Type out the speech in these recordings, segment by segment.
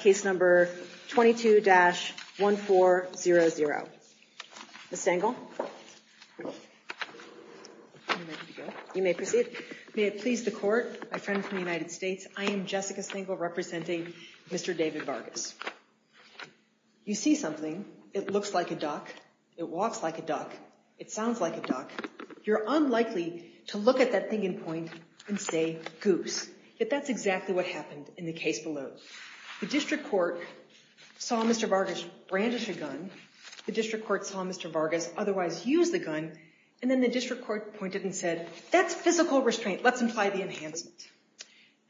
case number 22-1400. Ms. Stengel? You may proceed. May it please the court, my friend from the United States, I am Jessica Stengel representing Mr. David Vargas. You see something. It looks like a duck. It walks like a duck. It sounds like a duck. You're unlikely to look at that thing in point and say goose. Yet that's exactly what happened in the case below. The district court saw Mr. Vargas brandish a gun. The district court saw Mr. Vargas otherwise use the gun. And then the district court pointed and said, that's physical restraint. Let's imply the enhancement.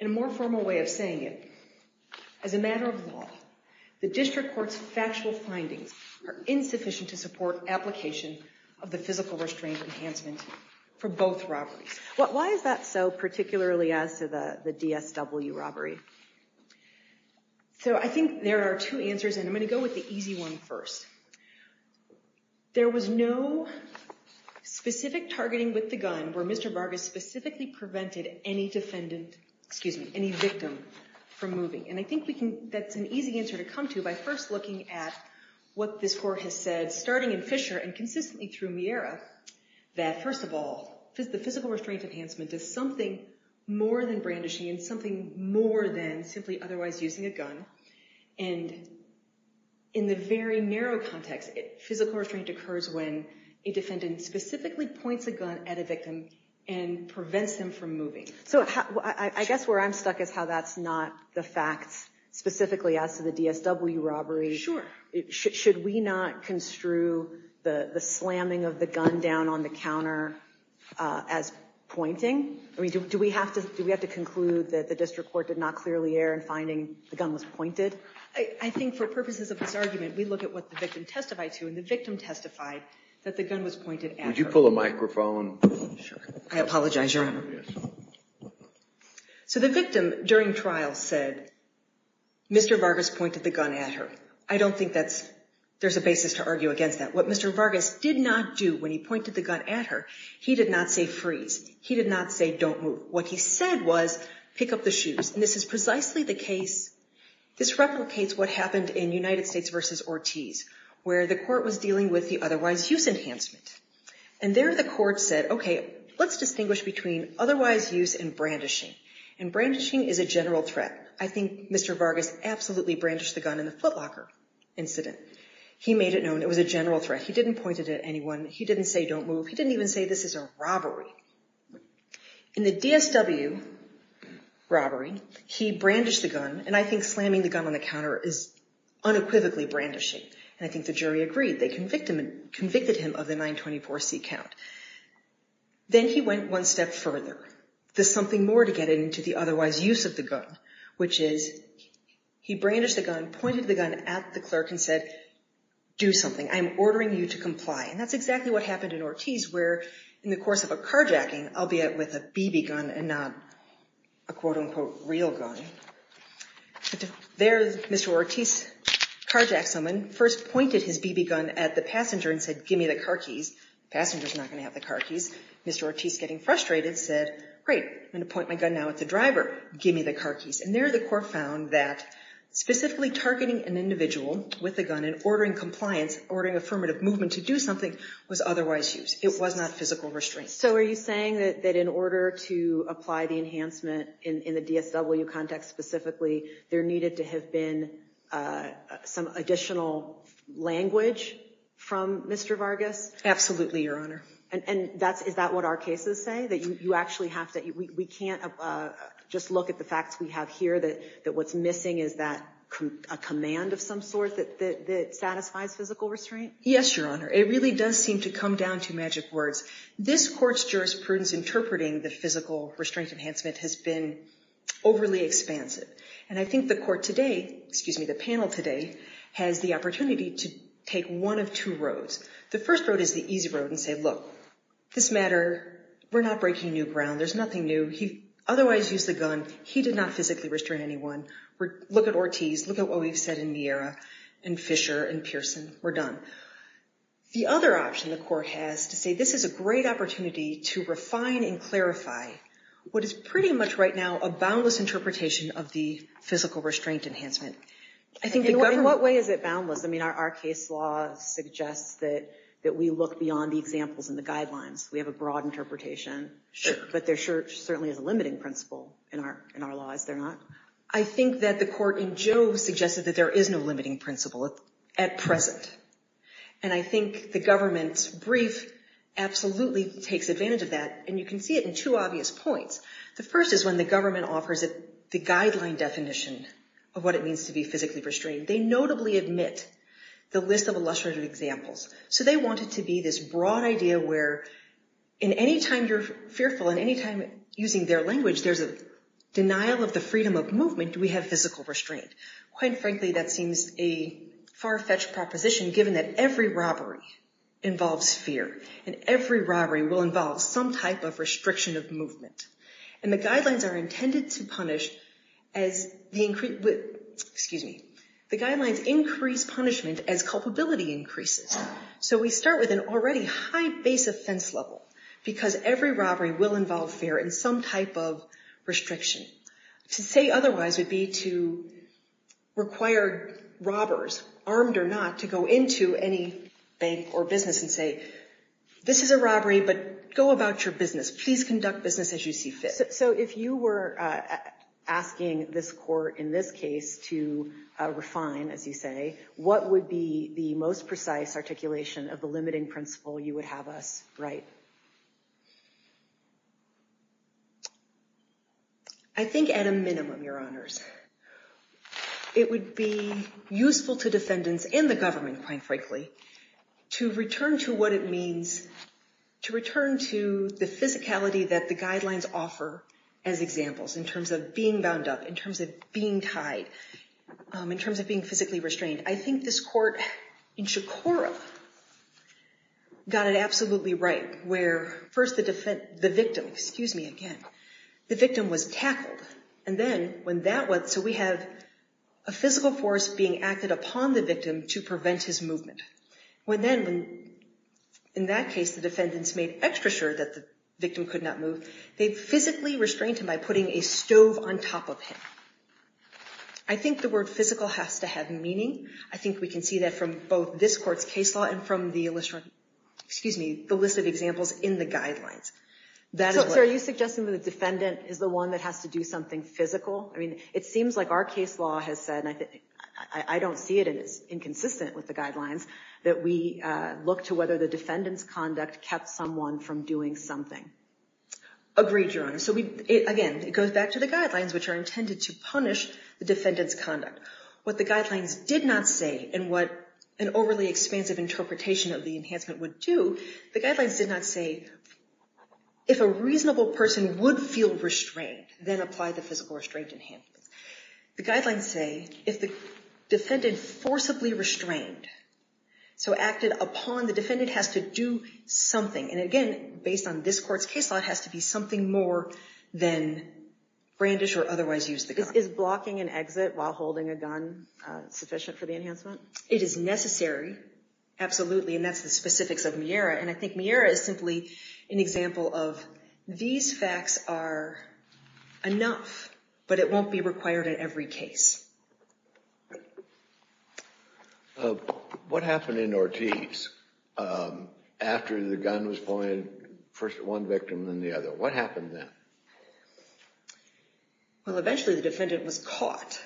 In a more formal way of saying it, as a matter of law, the district court's factual findings are insufficient to support application of the physical restraint enhancement for both robberies. Why is that so, particularly as to the DSW robbery? So I think there are two answers, and I'm going to go with the easy one first. There was no specific targeting with the gun where Mr. Vargas specifically prevented any victim from moving. And I think that's an easy answer to come to by first looking at what this court has said, starting in Fisher and consistently through Miera, that first of all, the physical restraint enhancement is something more than brandishing and something more than simply otherwise using a gun. And in the very narrow context, physical restraint occurs when a defendant specifically points a gun at a victim and prevents him from moving. So I guess where I'm stuck is how that's not the facts, specifically as to the DSW robbery. Should we not construe the slamming of the gun down on the counter as pointing? Do we have to conclude that the district court did not clearly err in finding the gun was pointed? I think for purposes of this argument, we look at what the victim testified to, and the victim testified that the gun was pointed at her. Would you pull a microphone? I apologize, Your Honor. So the victim during trial said, Mr. Vargas pointed the gun at her. I don't think there's a basis to argue against that. What Mr. Vargas did not do when he pointed the gun at her, he did not say freeze. He did not say don't move. What he said was pick up the shoes. And this is precisely the case. This replicates what happened in United States versus Ortiz, where the court was dealing with the otherwise use enhancement. And there the court said, okay, let's distinguish between otherwise use and brandishing. And brandishing is a general threat. I think Mr. Vargas absolutely brandished the gun in the footlocker incident. He made it known it was a general threat. He didn't point it at anyone. He didn't say don't move. He didn't even say this is a robbery. In the DSW robbery, he brandished the gun, and I think slamming the gun on the counter is unequivocally brandishing. And I think the jury agreed. They convicted him of the 924C count. Then he went one step further. There's something more to get into the otherwise use of the gun, which is he brandished the gun, pointed the gun at the clerk, and said do something. I'm ordering you to comply. And that's exactly what happened in Ortiz, where in the course of a carjacking, albeit with a BB gun and not a quote-unquote real gun, there Mr. Ortiz carjacked someone, first pointed his BB gun at the passenger and said give me the car keys. Passenger's not going to have the car keys. Mr. Ortiz, getting frustrated, said great, I'm going to point my gun now at the driver. Give me the car keys. And there the court found that specifically targeting an individual with a gun and ordering compliance, ordering affirmative movement to do something, was otherwise use. It was not physical restraint. So are you saying that in order to apply the enhancement in the DSW context specifically, there needed to have been some additional language from Mr. Vargas? Absolutely, Your Honor. And is that what our cases say? That you actually have to, we can't just look at the facts we have here, that what's missing is that a command of some sort that satisfies physical restraint? Yes, Your Honor. It really does seem to come down to magic words. This court's jurisprudence interpreting the physical restraint enhancement has been overly expansive. And I think the court today, excuse me, the panel today, has the opportunity to take one of two roads. The first road is the easy road and say, look, this matter, we're not breaking new ground. There's nothing new. He otherwise used the gun. He did not physically restrain anyone. Look at Ortiz. Look at what we've said in Miera and Fisher and Pearson. We're done. The other option the court has to say, this is a great opportunity to refine and clarify what is pretty much right now a boundless interpretation of the physical restraint enhancement. I think the government... In what way is it boundless? I mean, our case law suggests that we look beyond the examples and the guidelines. We have a broad interpretation, but there certainly is a limiting principle in our law, is there not? I think that the court in Jove suggested that there is no limiting principle at present. And I think the government's brief absolutely takes advantage of that. And you can see it in two obvious points. The first is when the government offers it the guideline definition of what it means to be physically restrained. They notably admit the list of illustrative examples. So they want it to be this broad idea where in any time you're fearful, in any time using their language, there's a denial of the freedom of movement. Do we have physical restraint? Quite frankly, that seems a far-fetched proposition given that every robbery involves fear and every robbery will involve some type of restriction of movement. And the guidelines are intended to punish as... Excuse me. The guidelines increase punishment as culpability increases. So we start with an already high base offense level because every robbery will involve fear and some type of restriction of movement. So this is a robbery, but go about your business. Please conduct business as you see fit. So if you were asking this court in this case to refine, as you say, what would be the most precise articulation of the limiting principle you would have us write? I think at a minimum, Your Honors, it would be to return to the physicality that the guidelines offer as examples in terms of being bound up, in terms of being tied, in terms of being physically restrained. I think this court in Shakura got it absolutely right where first the victim, excuse me again, the victim was tackled. And then when that was... So we have a physical force being acted upon the victim to prevent his movement. When then, in that case, the defendants made extra sure that the victim could not move, they physically restrained him by putting a stove on top of him. I think the word physical has to have meaning. I think we can see that from both this court's case law and from the list of examples in the guidelines. So are you suggesting that the defendant is the one that has to do something physical? I mean, it seems like our case law has said, and I don't see it as inconsistent with the guidelines, that we look to whether the defendant's conduct kept someone from doing something. Agreed, Your Honor. So again, it goes back to the guidelines, which are intended to punish the defendant's conduct. What the guidelines did not say, and what an overly expansive interpretation of the enhancement would do, the guidelines did not say, if a reasonable person would feel restrained, then apply the physical restraint enhancement. The guidelines say, if the defendant forcibly restrained, so acted upon, the defendant has to do something. And again, based on this court's case law, it has to be something more than brandish or otherwise use the gun. Is blocking an exit while holding a gun sufficient for the enhancement? It is necessary, absolutely, and that's the specifics of MIERA. And I think MIERA is simply an example of, these facts are enough, but it won't be required in every case. What happened in Ortiz after the gun was pointed, first at one victim, then the other? What happened then? Well, eventually the defendant was caught.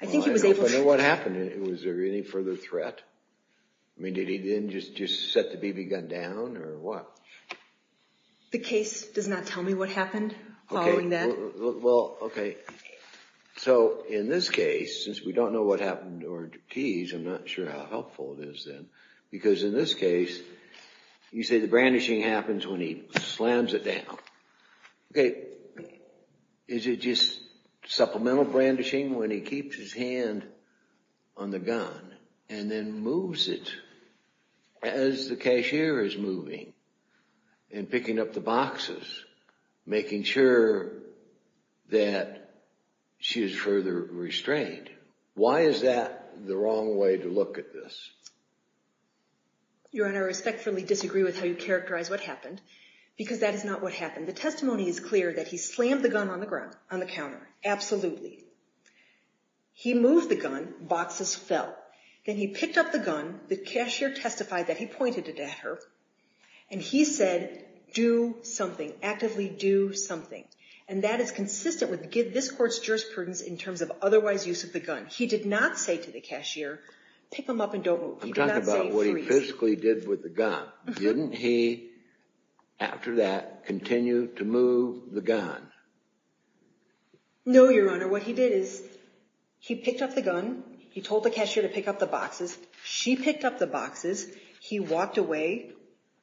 I think he was able to... I don't know what happened. Was there any further threat? I mean, did he then just set the BB gun down, or what? The case does not tell me what happened following that. Well, OK. So in this case, since we don't know what happened to Ortiz, I'm not sure how helpful it is then. Because in this case, you say the brandishing happens when he slams it down. OK. Is it just supplemental brandishing when he keeps his hand on the gun and then moves it as the cashier is moving and picking up the boxes, making sure that she is further restrained? Why is that the wrong way to look at this? Your Honor, I respectfully disagree with how you characterize what happened, because that is not what happened. The testimony is clear that he slammed the gun on the counter. Absolutely. He moved the gun. Boxes fell. Then he picked up the gun. The cashier testified that he pointed it at her. And he said, do something. Actively do something. And that is consistent with this court's jurisprudence in terms of otherwise use of the gun. He did not say to the cashier, pick them up and don't move. He did not say freeze. I'm talking about what he physically did with the gun. Didn't he, after that, continue to move the gun? No, Your Honor. What he did is he picked up the gun. He told the cashier to pick up the boxes. She picked up the boxes. He walked away.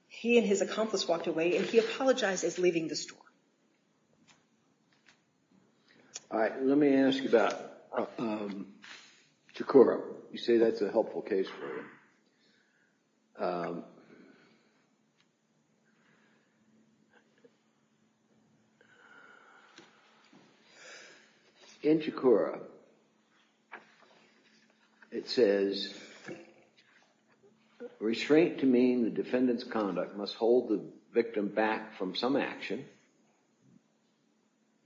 He and his accomplice walked away. And he apologized as leaving the store. All right. Let me ask you about Chikora. You say that's a helpful case for you. In Chikora, it says, restraint to mean the defendant's conduct must hold the victim back from some action.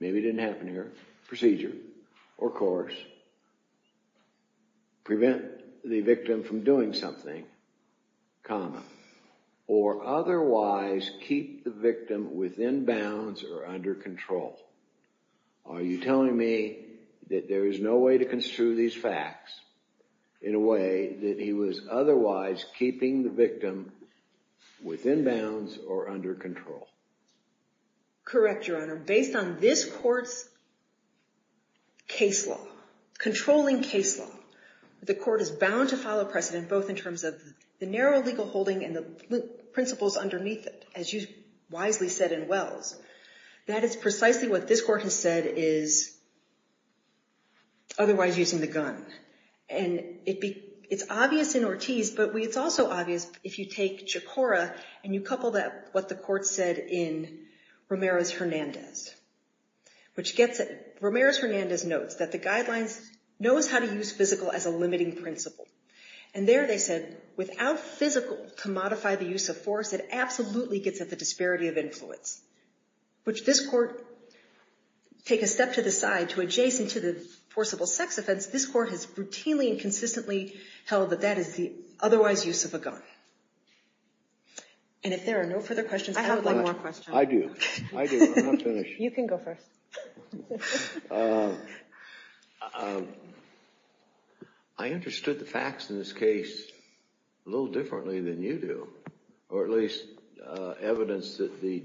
Maybe it didn't happen here. Procedure or course. Prevent the victim from doing something, comma, or otherwise keep the victim within bounds or under control. Are you telling me that there is no way to construe these facts in a way that he was otherwise keeping the victim within bounds or under control? Correct, Your Honor. Based on this court's case law, controlling case law, the court is bound to follow precedent both in terms of the narrow legal holding and the principles underneath it, as you wisely said in Wells. That is precisely what this court has said is otherwise using the gun. And it's obvious in Ortiz, but it's also obvious if you take Chikora and you couple that with what the court said in Romero's Hernandez. Romero's Hernandez notes that the guidelines knows how to use physical as a limiting principle. And there they said, without physical to modify the use of force, it absolutely gets at the disparity of influence, which this court take a step to the side to adjacent to the forcible sex offense, this court has routinely and consistently held that that is the otherwise use of a gun. And if there are no further questions, I have one more question. I do. I do. I'm not finished. You can go first. I understood the facts in this case a little differently than you do, or at least evidence that the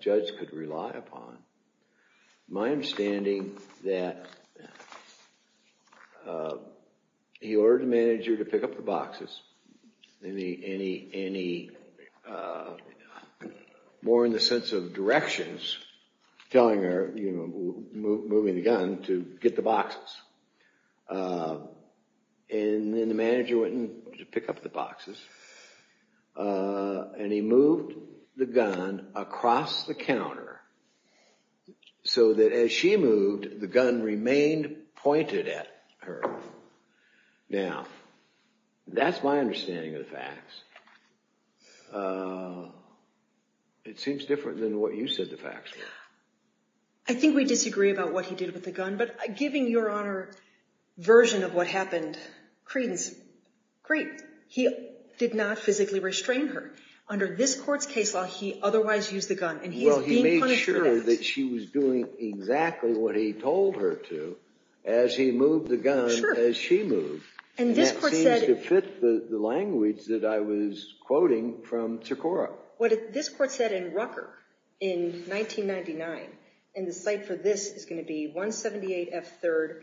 judge could rely upon. My understanding that he ordered the manager to pick up the boxes, and he more in the sense of directions, telling her, moving the gun to get the boxes. And then the manager went to pick up the boxes, and he moved the gun across the counter so that as she moved, the gun remained pointed at her. Now, that's my understanding of the facts. It seems different than what you said the facts were. I think we disagree about what he did with the gun, but giving your Honor version of what happened, Creedence, great. He did not physically restrain her. Under this court's case law, he otherwise used the gun, and he's being punished for that. Well, he made sure that she was doing exactly what he told her to as he moved the gun as she moved. And this court said— And that seems to fit the language that I was quoting from Cicora. What this court said in Rucker in 1999, and the cite for this is going to be 178 F. 3rd,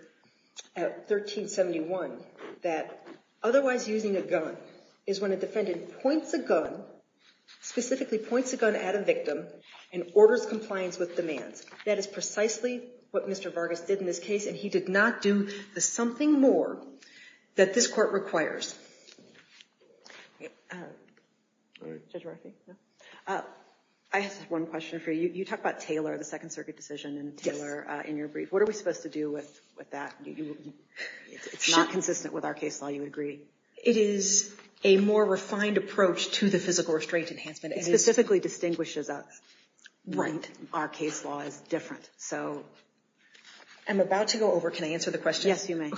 1371, that otherwise using a gun is when a defendant points a gun, specifically points a gun at a victim, and orders compliance with demands. That is precisely what Mr. Vargas did in this case, and he did not do the something more that this court requires. Judge Murphy? I have one question for you. You talk about Taylor, the Second Circuit decision, and Taylor in your brief. What are we supposed to do with that? It's not consistent with our case law, you would agree? It is a more refined approach to the physical restraint enhancement. It specifically distinguishes us. Right. Our case law is different. I'm about to go over. Can I answer the question? Yes, you may.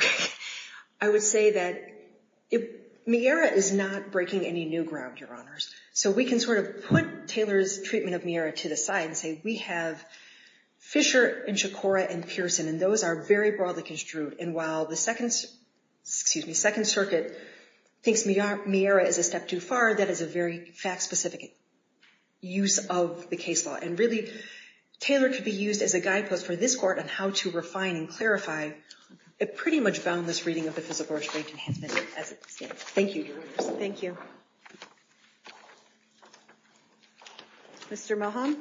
I would say that MIERA is not breaking any new ground, Your Honors. So we can sort of put Taylor's treatment of MIERA to the side and say we have Fisher and Cicora and Pearson, and those are very broadly construed. And while the Second Circuit thinks MIERA is a step too far, that is a very fact-specific use of the case law. And really, Taylor could be used as a guidepost for this Court on how to refine and clarify a pretty much boundless reading of the physical restraint enhancement as it stands. Thank you, Your Honors. Thank you. Mr. Moham?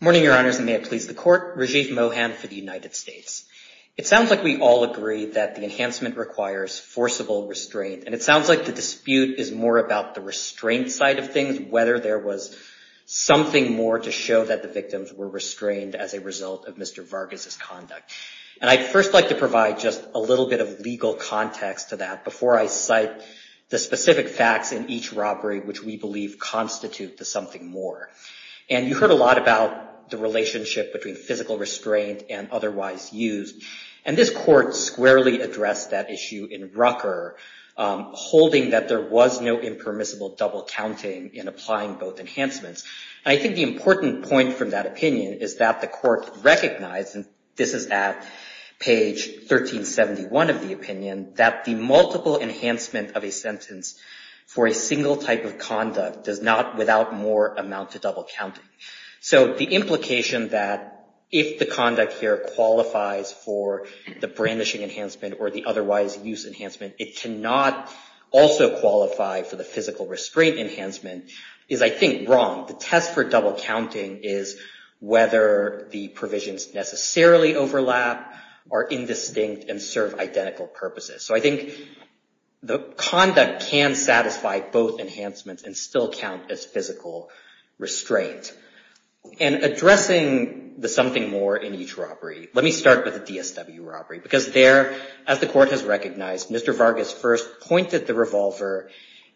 Good morning, Your Honors, and may it please the Court. Rajiv Mohan for the United States. It sounds like we all agree that the enhancement requires forcible restraint. And it sounds like the dispute is more about the restraint side of things, whether there was something more to show that the victims were restrained as a result of Mr. Vargas' conduct. And I'd first like to provide just a little bit of legal context to that before I cite the specific facts in each robbery which we believe constitute to something more. And you heard a lot about the relationship between physical restraint and otherwise used. And this Court squarely addressed that issue in Rucker, holding that there was no impermissible double counting in applying both enhancements. And I think the important point from that opinion is that the Court recognized, and this is at page 1371 of the opinion, that the multiple enhancement of a sentence for a single type of conduct does not, without more, amount to double counting. So the implication that if the conduct here qualifies for the brandishing enhancement or the otherwise used enhancement, it cannot also qualify for the physical restraint enhancement is, I think, wrong. The test for double counting is whether the provisions necessarily overlap or indistinct and serve identical purposes. So I think the conduct can satisfy both enhancements and still count as physical restraint. And addressing the something more in each robbery, let me start with the DSW robbery. Because there, as the Court has recognized, Mr. Vargas first pointed the revolver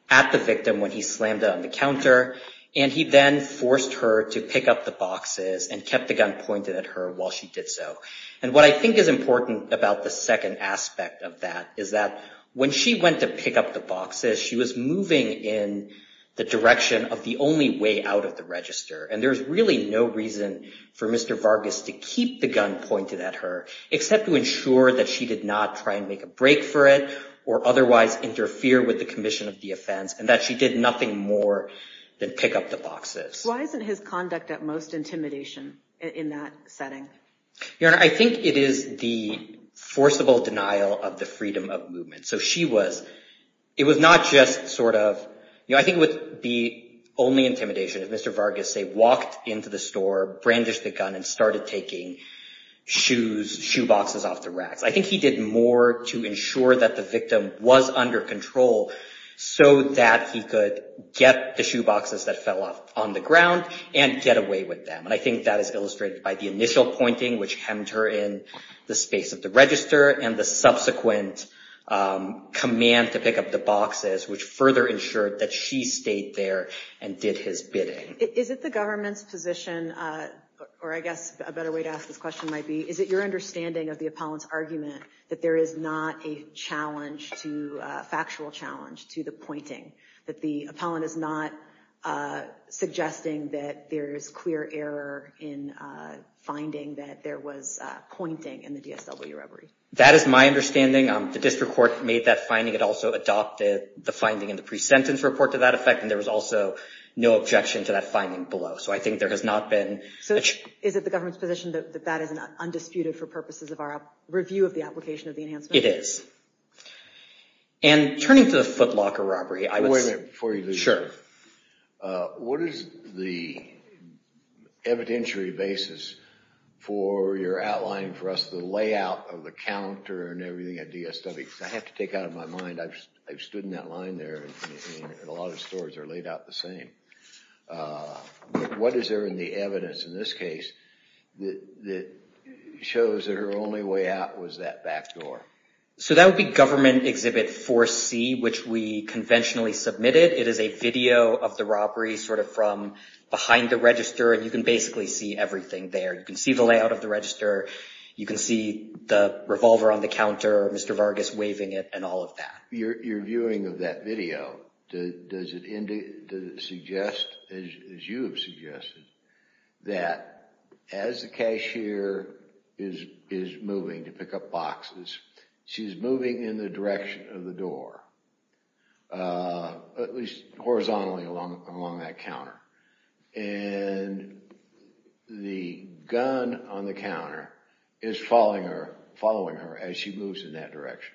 at the victim when he slammed it on the counter, and he then forced her to pick up the boxes and kept the gun pointed at her while she did so. And what I think is important about the second aspect of that is that when she went to pick up the boxes, she was moving in the direction of the only way out of the register. And there's really no reason for Mr. Vargas to keep the gun pointed at her, except to ensure that she did not try and make a break for it or otherwise interfere with the commission of the offense, and that she did nothing more than pick up the boxes. Why isn't his conduct at most intimidation in that setting? Your Honor, I think it is the forcible denial of the freedom of movement. So she was, it was not just sort of, you know, I think it would be only intimidation if Mr. Vargas, say, walked into the store, brandished the gun, and started taking shoes, shoe boxes off the racks. I think he did more to ensure that the victim was under control so that he could get the shoe boxes that fell off on the ground and get away with them. I think that is illustrated by the initial pointing, which hemmed her in the space of the register, and the subsequent command to pick up the boxes, which further ensured that she stayed there and did his bidding. Is it the government's position, or I guess a better way to ask this question might be, is it your understanding of the appellant's argument that there is not a challenge to, a factual challenge to the pointing? That the appellant is not suggesting that there is clear error in finding that there was pointing in the DSW robbery? That is my understanding. The district court made that finding. It also adopted the finding in the pre-sentence report to that effect. And there was also no objection to that finding below. So I think there has not been... So is it the government's position that that is undisputed for purposes of our review of the application of the enhancement? It is. And turning to the footlocker robbery, I was... Wait a minute before you leave. Sure. What is the evidentiary basis for your outline for us, the layout of the counter and everything at DSW? Because I have to take out of my mind, I've stood in that line there, and a lot of stories are laid out the same. What is there in the evidence in this case that shows that her only way out was that back door? So that would be Government Exhibit 4C, which we conventionally submitted. It is a video of the robbery sort of from behind the register, and you can basically see everything there. You can see the layout of the register. You can see the revolver on the counter, Mr. Vargas waving it, and all of that. Your viewing of that video, does it suggest, as you have suggested, that as the cashier is moving to pick up boxes, she's moving in the direction of the door, at least horizontally along that counter. And the gun on the counter is following her as she moves in that direction.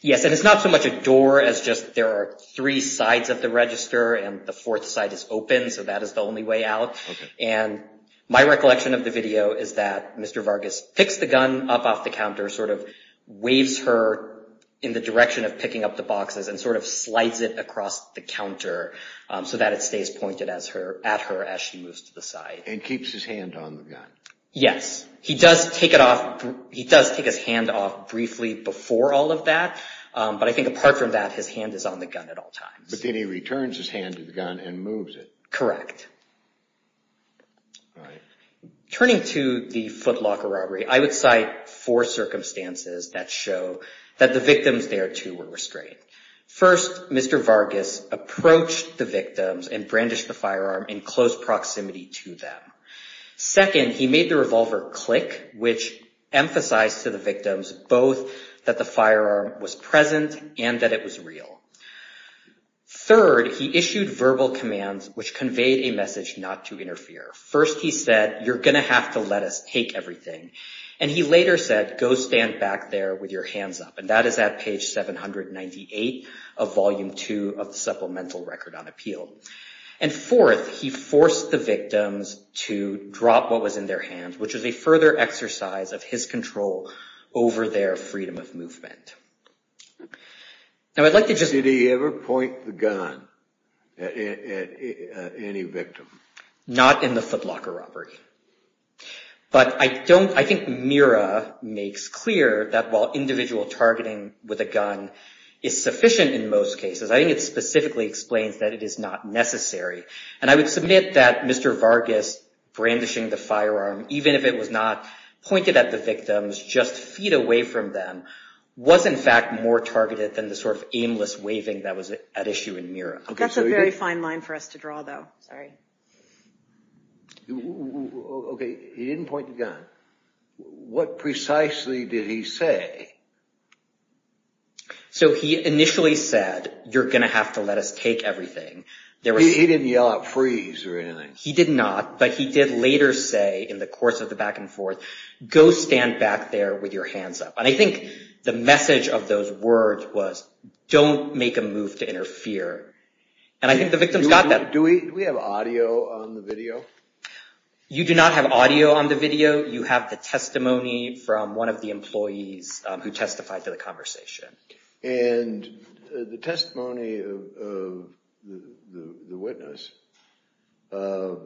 Yes, and it's not so much a door as just there are three sides of the register, and the fourth side is open, so that is the only way out. And my recollection of the video is that Mr. Vargas picks the gun up off the counter, sort of waves her in the direction of picking up the boxes, and sort of slides it across the counter so that it stays pointed at her as she moves to the side. Yes, he does take his hand off briefly before all of that, but I think apart from that, his hand is on the gun at all times. But then he returns his hand to the gun and moves it. Correct. Turning to the footlocker robbery, I would cite four circumstances that show that the victims thereto were restrained. First, Mr. Vargas approached the victims and brandished the firearm in close proximity to them. Second, he made the revolver click, which emphasized to the victims both that the firearm was present and that it was real. Third, he issued verbal commands which conveyed a message not to interfere. First, he said, you're going to have to let us take everything. And he later said, go stand back there with your hands up. And that is at page 798 of Volume 2 of the Supplemental Record on Appeal. And fourth, he forced the victims to drop what was in their hands, which was a further exercise of his control over their freedom of movement. Did he ever point the gun at any victim? Not in the footlocker robbery. But I think Mira makes clear that while individual targeting with a gun is sufficient in most cases, I think it specifically explains that it is not necessary. And I would submit that Mr. Vargas brandishing the firearm, even if it was not pointed at the victims, just feet away from them, was in fact more targeted than the sort of aimless waving that was at issue in Mira. That's a very fine line for us to draw, though. Sorry. Okay, he didn't point the gun. What precisely did he say? So he initially said, you're going to have to let us take everything. He didn't yell out freeze or anything. He did not, but he did later say in the course of the back and forth, go stand back there with your hands up. And I think the message of those words was, don't make a move to interfere. And I think the victims got that. Do we have audio on the video? You do not have audio on the video. You have the testimony from one of the employees who testified to the conversation. And the testimony of the witness. I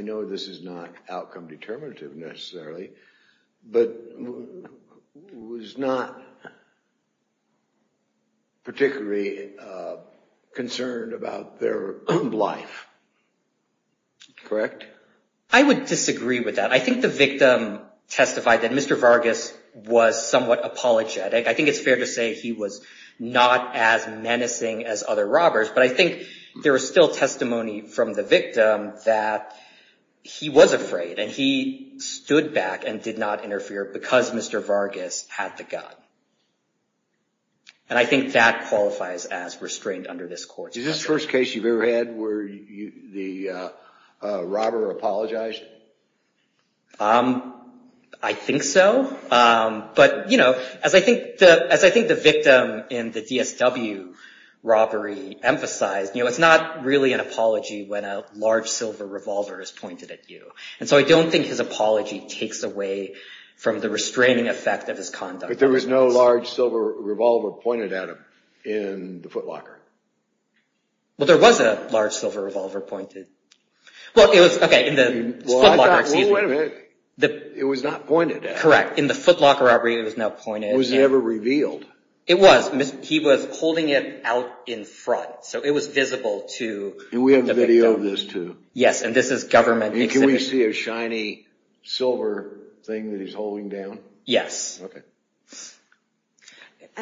know this is not outcome determinative necessarily, but was not particularly concerned about their own life. Correct? I would disagree with that. I think the victim testified that Mr. Vargas was somewhat apologetic. I think it's fair to say he was not as menacing as other robbers, but I think there was still testimony from the victim that he was afraid, and he stood back and did not interfere because Mr. Vargas had the gun. And I think that qualifies as restraint under this court. Is this the first case you've ever had where the robber apologized? I think so. But, you know, as I think the victim in the DSW robbery emphasized, it's not really an apology when a large silver revolver is pointed at you. And so I don't think his apology takes away from the restraining effect of his conduct. But there was no large silver revolver pointed at him in the footlocker. Well, there was a large silver revolver pointed. Well, it was, okay, in the footlocker. Well, wait a minute. It was not pointed at him. Correct. In the footlocker robbery, it was not pointed. It was never revealed. It was. He was holding it out in front, so it was visible to the victim. And we have a video of this, too. Yes, and this is government exhibit. Can we see a shiny silver thing that he's holding down? Yes. Okay.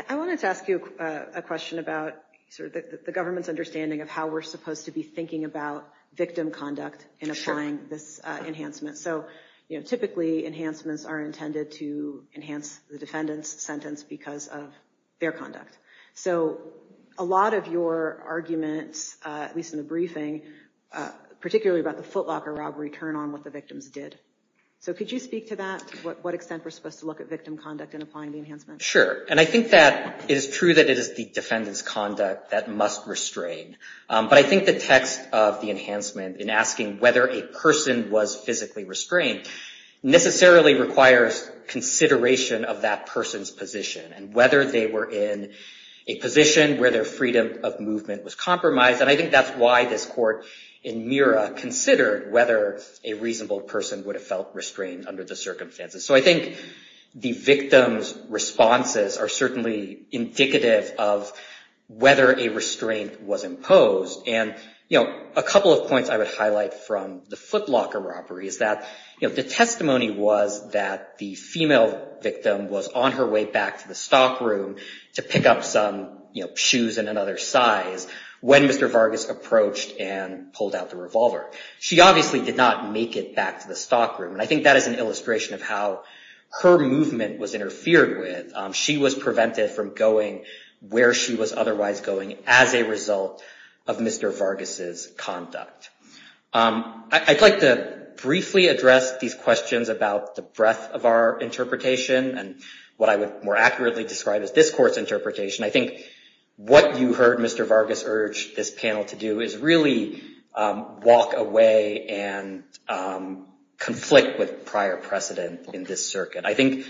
I wanted to ask you a question about sort of the government's understanding of how we're supposed to be thinking about victim conduct and applying this enhancement. So, you know, typically enhancements are intended to enhance the defendant's sentence because of their conduct. So a lot of your arguments, at least in the briefing, particularly about the footlocker robbery, turn on what the victims did. So could you speak to that, to what extent we're supposed to look at victim conduct in applying the enhancement? Sure. And I think that it is true that it is the defendant's conduct that must restrain. But I think the text of the enhancement in asking whether a person was physically restrained necessarily requires consideration of that person's position and whether they were in a position where their freedom of movement was compromised. And I think that's why this court in Murrah considered whether a reasonable person would have felt restrained under the circumstances. So I think the victim's responses are certainly indicative of whether a restraint was imposed. And, you know, a couple of points I would highlight from the footlocker robbery is that, you know, the testimony was that the female victim was on her way back to the stockroom to pick up some shoes in another size when Mr. Vargas approached and pulled out the revolver. She obviously did not make it back to the stockroom. And I think that is an illustration of how her movement was interfered with. She was prevented from going where she was otherwise going as a result of Mr. Vargas's conduct. I'd like to briefly address these questions about the breadth of our interpretation I think what you heard Mr. Vargas urge this panel to do is really walk away and conflict with prior precedent in this circuit. I think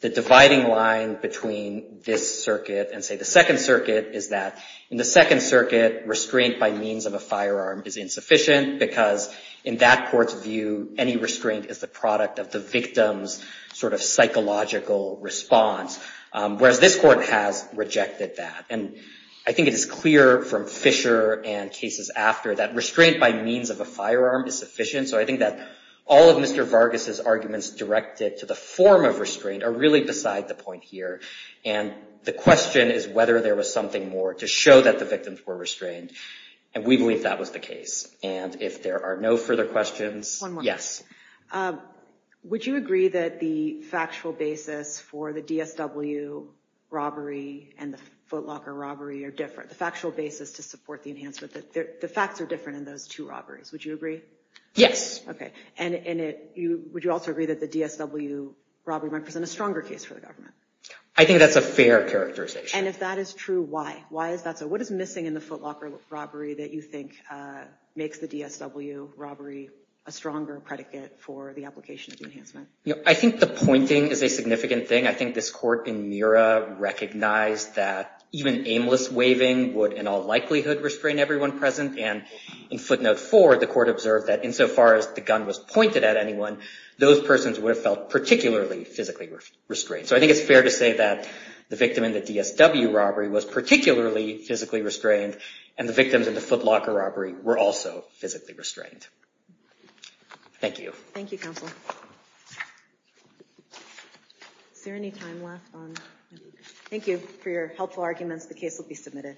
the dividing line between this circuit and say the second circuit is that in the second circuit, restraint by means of a firearm is insufficient because in that court's view, any restraint is the product of the victim's sort of psychological response. Whereas this court has rejected that. And I think it is clear from Fisher and cases after that restraint by means of a firearm is sufficient. So I think that all of Mr. Vargas's arguments directed to the form of restraint are really beside the point here. And the question is whether there was something more to show that the victims were restrained. And we believe that was the case. And if there are no further questions. One more. Yes. Would you agree that the factual basis for the DSW robbery and the Foot Locker robbery are different? The factual basis to support the enhancement that the facts are different in those two robberies. Would you agree? Yes. OK. And would you also agree that the DSW robbery might present a stronger case for the government? I think that's a fair characterization. And if that is true, why? Why is that so? What is missing in the Foot Locker robbery that you think makes the DSW robbery a stronger predicate for the application of the enhancement? I think the pointing is a significant thing. I think this court in Murrah recognized that even aimless waving would in all likelihood restrain everyone present. And in footnote four, the court observed that insofar as the gun was pointed at anyone, those persons would have felt particularly physically restrained. So I think it's fair to say that the victim in the DSW robbery was particularly physically restrained. And the victims in the Foot Locker robbery were also physically restrained. Thank you. Thank you, counsel. Is there any time left? Thank you for your helpful arguments. The case will be submitted.